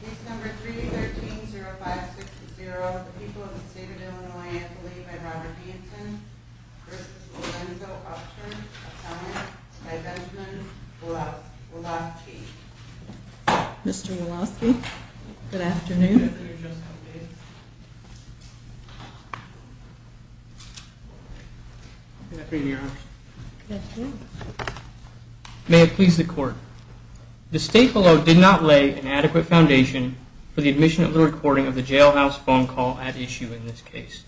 Case No. 3-13-0560, The People of the State of Illinois, Anthony v. Robert Hinton v. Lorenzo Upchurch, Assignment by Benjamin Wolofsky Mr. Wolofsky, good afternoon. The State of Illinois did not lay an adequate foundation for the admission of the recording of the jailhouse phone call at issue in this case.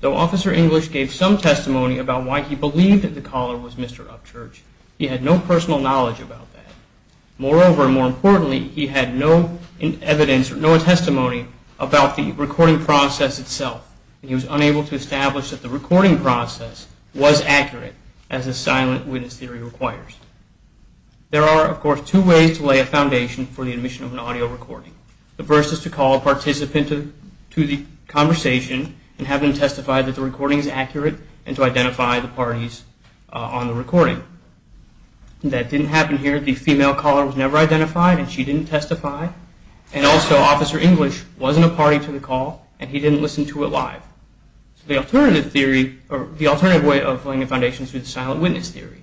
Though Officer English gave some testimony about why he believed that the caller was Mr. Upchurch, he had no personal knowledge about that. Moreover, and more importantly, he had no evidence or no testimony about the recording process itself. He was unable to establish that the recording process was accurate as a silent witness theory requires. There are, of course, two ways to lay a foundation for the admission of an audio recording. The first is to call a participant to the conversation and have them testify that the recording is accurate and to identify the parties on the recording. That didn't happen here. The female caller was never identified and she didn't testify. And also, Officer English wasn't a party to the call and he didn't listen to it live. The alternative way of laying a foundation is through the silent witness theory.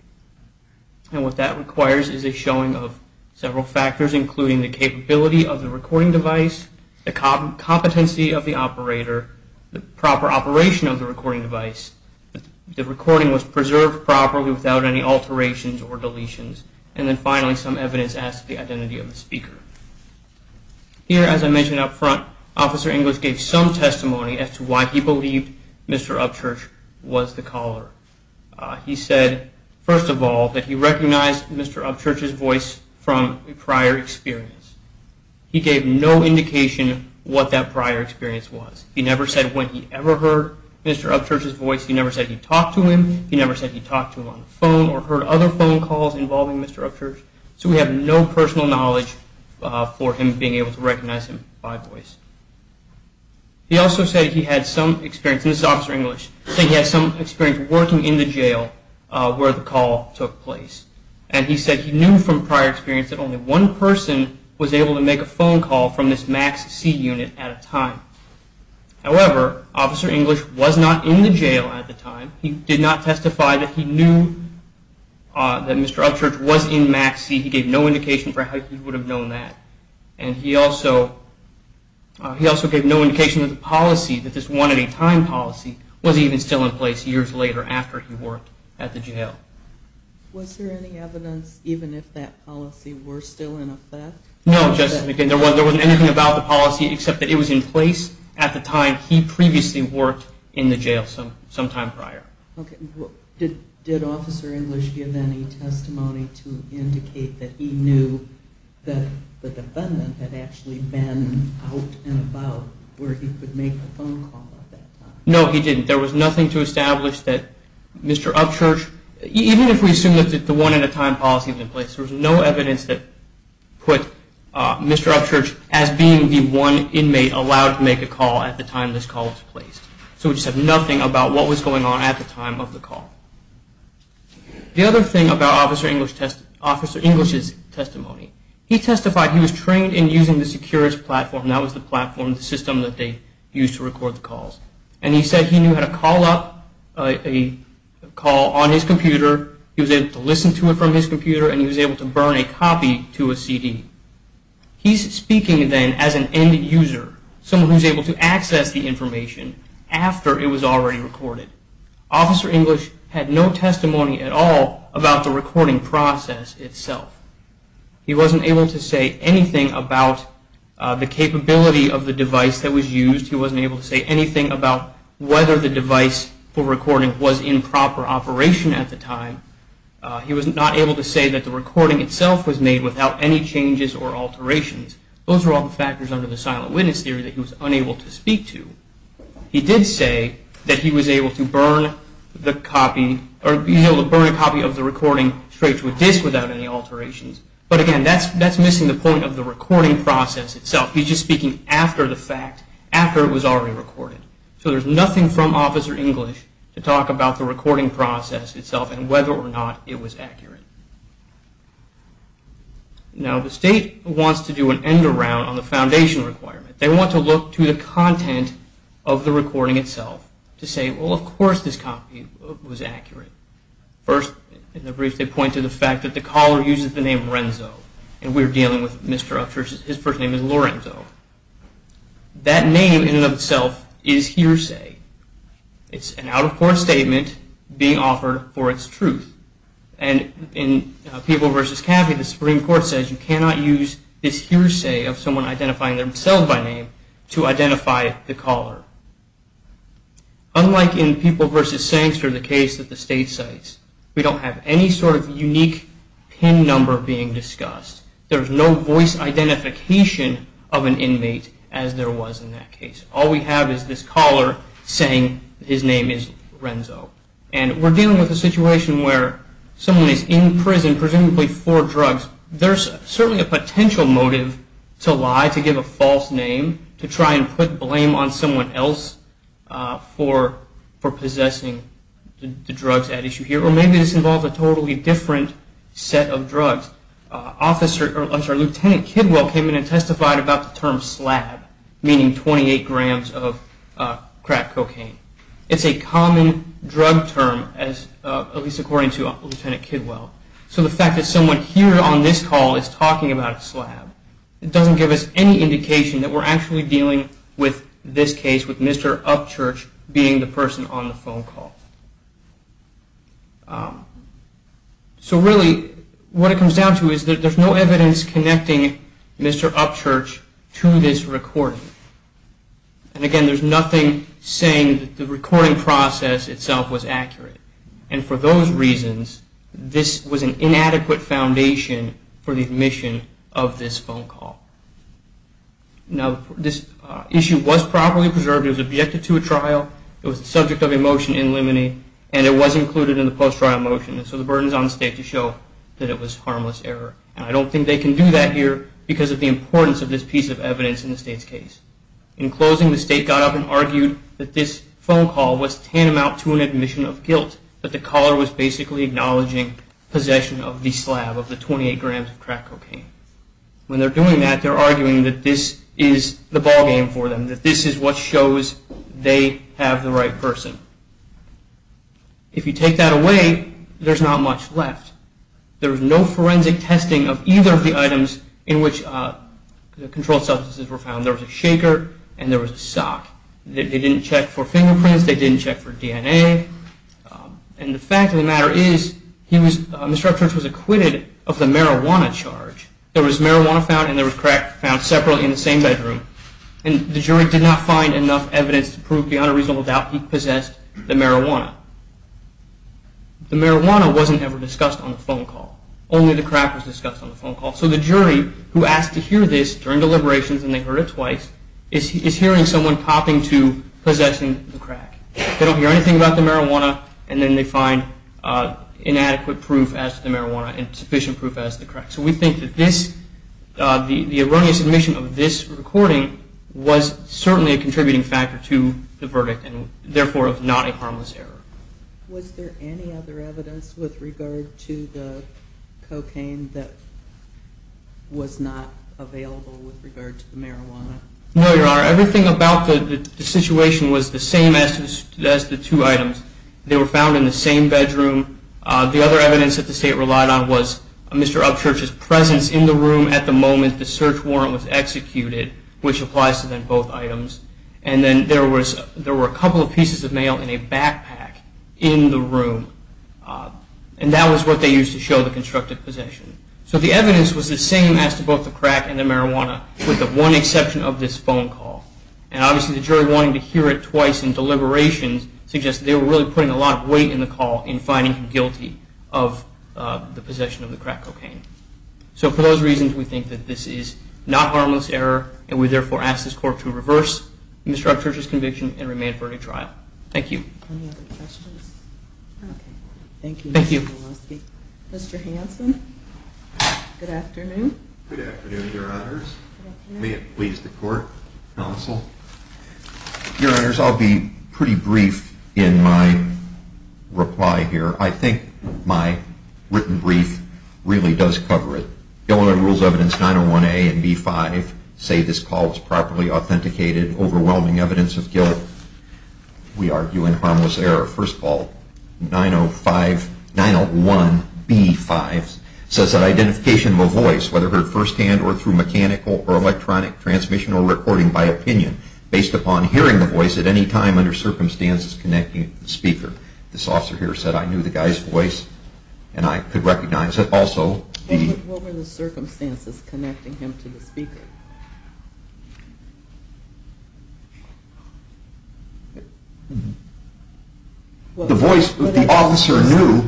And what that requires is a showing of several factors including the capability of the recording device, the competency of the operator, the proper operation of the recording device, the recording was preserved properly without any alterations or deletions, and then finally some evidence as to the identity of the speaker. Here, as I mentioned up front, Officer English gave some testimony as to why he believed Mr. Upchurch was the caller. He said, first of all, that he recognized Mr. Upchurch's voice from a prior experience. He gave no indication what that prior experience was. He never said when he ever heard Mr. Upchurch's voice. He never said he talked to him. He never said he talked to him on the phone or heard other phone calls involving Mr. Upchurch. So we have no personal knowledge for him being able to recognize him by voice. He also said he had some experience, and this is Officer English, he said he had some experience working in the jail where the call took place. And he said he knew from prior experience that only one person was able to make a phone call from this Max C unit at a time. However, Officer English was not in the jail at the time. He did not testify that he knew that Mr. Upchurch was in Max C. He gave no indication for how he would have known that. And he also gave no indication of the policy, that this one-at-a-time policy was even still in place years later after he worked at the jail. Was there any evidence even if that policy were still in effect? No, there wasn't anything about the policy except that it was in place at the time he previously worked in the jail sometime prior. Did Officer English give any testimony to indicate that he knew that the defendant had actually been out and about where he could make a phone call at that time? No, he didn't. There was nothing to establish that Mr. Upchurch, even if we assume that the one-at-a-time policy was in place, there was no evidence that put Mr. Upchurch as being the one inmate allowed to make a call at the time this call was placed. So we just have nothing about what was going on at the time of the call. The other thing about Officer English's testimony, he testified he was trained in using the Securids platform. That was the platform, the system that they used to record the calls. And he said he knew how to call up a call on his computer. He was able to listen to it from his computer and he was able to burn a copy to a CD. He's speaking then as an end user, someone who's able to access the information after it was already recorded. Officer English had no testimony at all about the recording process itself. He wasn't able to say anything about the capability of the device that was used. He wasn't able to say anything about whether the device for recording was in proper operation at the time. He was not able to say that the recording itself was made without any changes or alterations. Those were all the factors under the silent witness theory that he was unable to speak to. He did say that he was able to burn a copy of the recording straight to a disc without any alterations. But again, that's missing the point of the recording process itself. He's just speaking after the fact, after it was already recorded. So there's nothing from Officer English to talk about the recording process itself and whether or not it was accurate. Now the state wants to do an end around on the foundation requirement. They want to look to the content of the recording itself to say, well of course this copy was accurate. First in the brief they point to the fact that the caller uses the name Renzo. And we're dealing with Mr. Upshurst. His first name is Lorenzo. That name in and of itself is hearsay. It's an out-of-court statement being offered for its truth. And in People v. Caffey, the Supreme Court says you cannot use this hearsay of someone identifying themselves by name to identify the caller. Unlike in People v. Sangster, the case that the state cites, we don't have any sort of unique pin number being discussed. There's no voice identification of an inmate as there was in that case. All we have is this caller saying his name is Renzo. And we're dealing with a situation where someone is in prison presumably for drugs. There's certainly a potential motive to lie, to give a false name, to try and put blame on someone else for possessing the drugs at issue here. Or maybe this involves a totally different set of drugs. Officer Lieutenant Kidwell came in and testified about the term slab, meaning 28 grams of crack cocaine. It's a common drug term, at least according to Lieutenant Kidwell. So the fact that someone here on this call is talking about a slab doesn't give us any indication that we're actually dealing with this case, with Mr. Upchurch being the person on the phone call. So really, what it comes down to is that there's no evidence connecting Mr. Upchurch to this recording. And again, there's nothing saying that the recording process itself was accurate. And for those reasons, this was an inadequate foundation for the admission of this phone call. Now, this issue was properly preserved. It was objected to a trial. It was the subject of a motion in limine, and it was included in the post-trial motion. And so the burden is on the state to show that it was harmless error. And I don't think they can do that here because of the importance of this piece of evidence in the state's case. In closing, the state got up and argued that this phone call was tantamount to an admission of guilt, that the caller was basically acknowledging possession of the slab, of the 28 grams of crack cocaine. When they're doing that, they're arguing that this is the ballgame for them, that this is what shows they have the right person. If you take that away, there's not much left. There was no forensic testing of either of the items in which the controlled substances were found. There was a shaker, and there was a sock. They didn't check for fingerprints. They didn't check for DNA. And the fact of the matter is Mr. Edwards was acquitted of the marijuana charge. There was marijuana found, and there was crack found separately in the same bedroom. And the jury did not find enough evidence to prove beyond a reasonable doubt he possessed the marijuana. The marijuana wasn't ever discussed on the phone call. Only the crack was discussed on the phone call. So the jury, who asked to hear this during deliberations and they heard it twice, is hearing someone popping to possessing the crack. They don't hear anything about the marijuana, and then they find inadequate proof as to the marijuana and sufficient proof as to the crack. So we think that the erroneous admission of this recording was certainly a contributing factor to the verdict and, therefore, not a harmless error. Was there any other evidence with regard to the cocaine that was not available with regard to the marijuana? No, Your Honor. Everything about the situation was the same as the two items. They were found in the same bedroom. The other evidence that the State relied on was Mr. Upchurch's presence in the room at the moment the search warrant was executed, which applies to then both items. And then there were a couple of pieces of mail in a backpack in the room, and that was what they used to show the constructive possession. So the evidence was the same as to both the crack and the marijuana, with the one exception of this phone call. And, obviously, the jury wanting to hear it twice in deliberations suggests they were really putting a lot of weight in the call in finding him guilty of the possession of the crack cocaine. So for those reasons, we think that this is not a harmless error, and we, therefore, ask this Court to reverse Mr. Upchurch's conviction and remain for a new trial. Thank you. Any other questions? Thank you. Mr. Hanson, good afternoon. Good afternoon, Your Honors. May it please the Court, Counsel. Your Honors, I'll be pretty brief in my reply here. I think my written brief really does cover it. Gilliland Rules Evidence 901A and 901B-5 say this call was properly authenticated. Overwhelming evidence of guilt, we argue, and harmless error. First of all, 901B-5 says that identification of a voice, whether heard firsthand or through mechanical or electronic transmission or recording by opinion, based upon hearing the voice at any time under circumstances connecting it to the speaker. This officer here said, I knew the guy's voice, and I could recognize it also. What were the circumstances connecting him to the speaker? The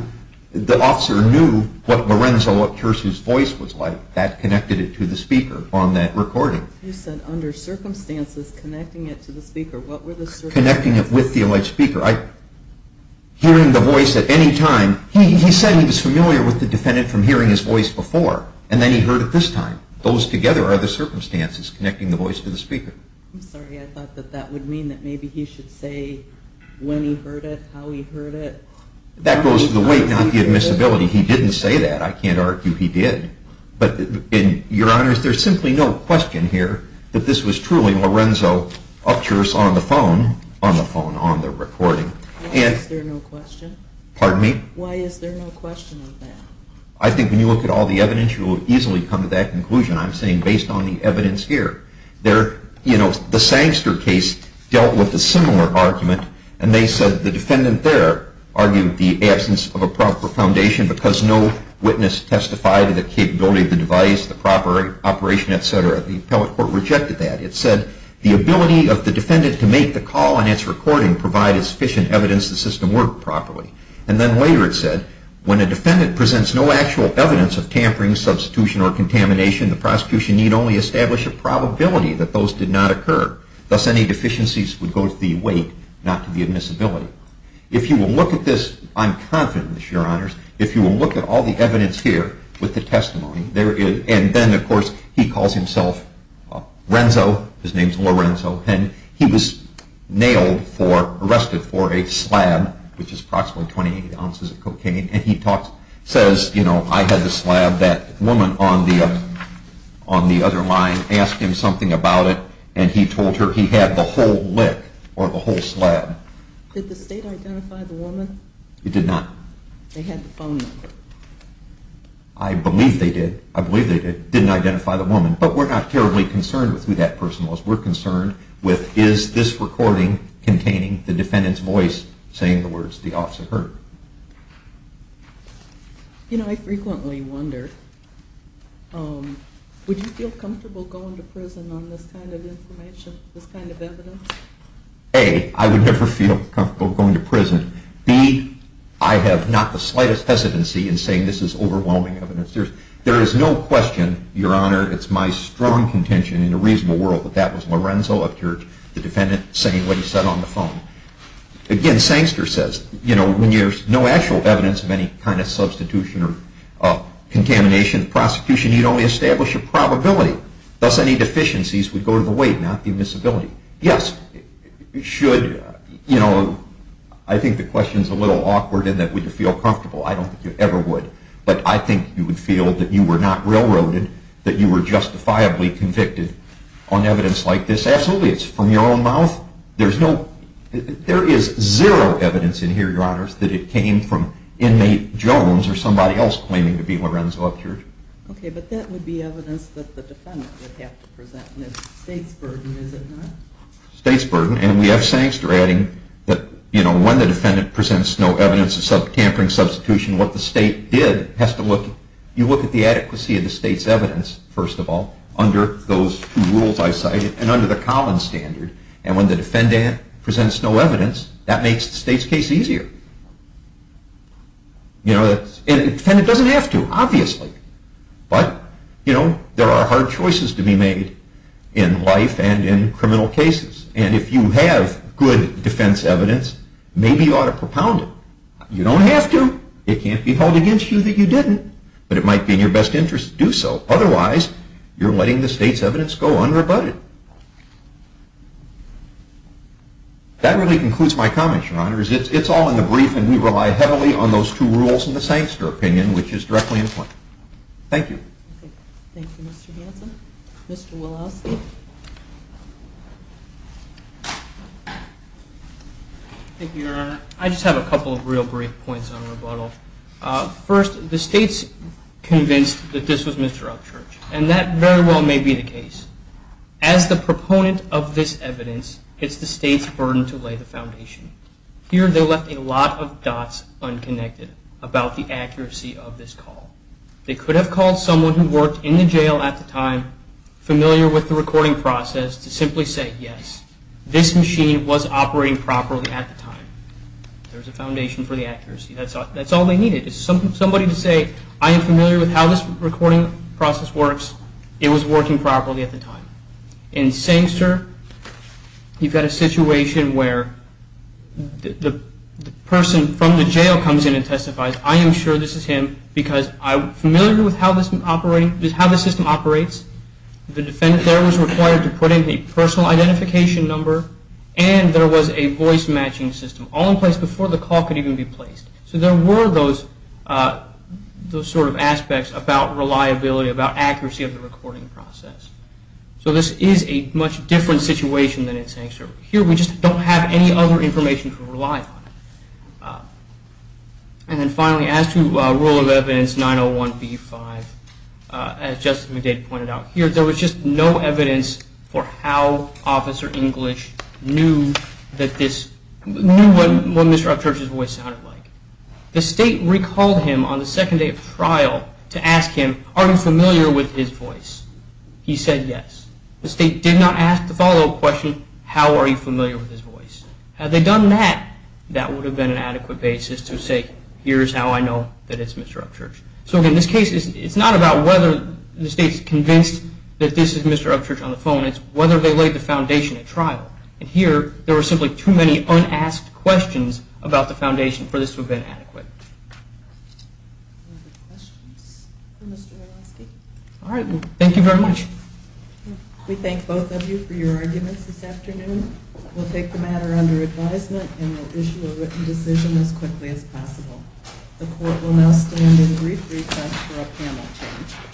officer knew what Lorenzo Upchurch's voice was like. That connected it to the speaker on that recording. You said, under circumstances connecting it to the speaker. Connecting it with the alleged speaker. Hearing the voice at any time. He said he was familiar with the defendant from hearing his voice before, and then he heard it this time. Those together are the circumstances connecting the voice to the speaker. I'm sorry. I thought that that would mean that maybe he should say when he heard it, how he heard it. That goes to the weight, not the admissibility. He didn't say that. I can't argue he did. Your Honor, there's simply no question here that this was truly Lorenzo Upchurch on the phone, on the phone, on the recording. Why is there no question? Pardon me? Why is there no question of that? I think when you look at all the evidence, you will easily come to that conclusion, I'm saying based on the evidence here. The Sangster case dealt with a similar argument, and they said the defendant there argued the absence of a proper foundation because no witness testified of the capability of the device, the proper operation, et cetera. The appellate court rejected that. It said the ability of the defendant to make the call on its recording provided sufficient evidence the system worked properly. And then later it said when a defendant presents no actual evidence of tampering, substitution, or contamination, the prosecution need only establish a probability that those did not occur. Thus, any deficiencies would go to the weight, not to the admissibility. If you will look at this, I'm confident, Your Honors, if you will look at all the evidence here with the testimony, and then, of course, he calls himself Renzo, his name is Lorenzo, and he was nailed for, arrested for a slab, which is approximately 28 ounces of cocaine, and he says, you know, I had the slab. That woman on the other line asked him something about it, Did the state identify the woman? It did not. They had the phone number. I believe they did. I believe they did. Didn't identify the woman. But we're not terribly concerned with who that person was. We're concerned with is this recording containing the defendant's voice saying the words the officer heard. You know, I frequently wonder, would you feel comfortable going to prison on this kind of information, this kind of evidence? A, I would never feel comfortable going to prison. B, I have not the slightest hesitancy in saying this is overwhelming evidence. There is no question, Your Honor, it's my strong contention in a reasonable world, that that was Lorenzo, the defendant, saying what he said on the phone. Again, Sangster says, you know, when there's no actual evidence of any kind of substitution or contamination, prosecution, you'd only establish a probability. Thus, any deficiencies would go to the weight, not the admissibility. Yes, you should, you know, I think the question's a little awkward in that would you feel comfortable. I don't think you ever would. But I think you would feel that you were not railroaded, that you were justifiably convicted on evidence like this. Absolutely, it's from your own mouth. There is zero evidence in here, Your Honors, that it came from inmate Jones or somebody else claiming to be Lorenzo Upchurch. Okay, but that would be evidence that the defendant would have to present, and it's the state's burden, is it not? State's burden, and we have Sangster adding that, you know, when the defendant presents no evidence of tampering, substitution, what the state did has to look, you look at the adequacy of the state's evidence, first of all, under those two rules I cited, and under the Collins standard. And when the defendant presents no evidence, that makes the state's case easier. You know, and the defendant doesn't have to, obviously. But, you know, there are hard choices to be made in life and in criminal cases. And if you have good defense evidence, maybe you ought to propound it. You don't have to. It can't be held against you that you didn't, but it might be in your best interest to do so. Otherwise, you're letting the state's evidence go unrebutted. That really concludes my comments, Your Honor. It's all in the brief, and we rely heavily on those two rules and the Sangster opinion, which is directly in play. Thank you. Thank you, Mr. Hanson. Mr. Woloski. Thank you, Your Honor. I just have a couple of real brief points on rebuttal. First, the state's convinced that this was Mr. Upchurch, and that very well may be the case. As the proponent of this evidence, it's the state's burden to lay the foundation. Here, they left a lot of dots unconnected about the accuracy of this call. They could have called someone who worked in the jail at the time, familiar with the recording process, to simply say, yes, this machine was operating properly at the time. There's a foundation for the accuracy. That's all they needed, is somebody to say, I am familiar with how this recording process works. It was working properly at the time. In Sangster, you've got a situation where the person from the jail comes in and testifies. I am sure this is him because I'm familiar with how the system operates. The defendant there was required to put in the personal identification number, and there was a voice matching system all in place before the call could even be placed. So there were those sort of aspects about reliability, about accuracy of the recording process. So this is a much different situation than in Sangster. Here, we just don't have any other information to rely on. And then finally, as to rule of evidence 901B5, as Justice McDade pointed out here, there was just no evidence for how Officer English knew what Mr. Upchurch's voice sounded like. The state recalled him on the second day of trial to ask him, are you familiar with his voice? He said yes. The state did not ask the follow-up question, how are you familiar with his voice? Had they done that, that would have been an adequate basis to say, here's how I know that it's Mr. Upchurch. So in this case, it's not about whether the state's convinced that this is Mr. Upchurch on the phone, it's whether they laid the foundation at trial. And here, there were simply too many unasked questions about the foundation for this to have been adequate. Thank you very much. We thank both of you for your arguments this afternoon. We'll take the matter under advisement and we'll issue a written decision as quickly as possible. The court will now stand at a brief recess for our panel.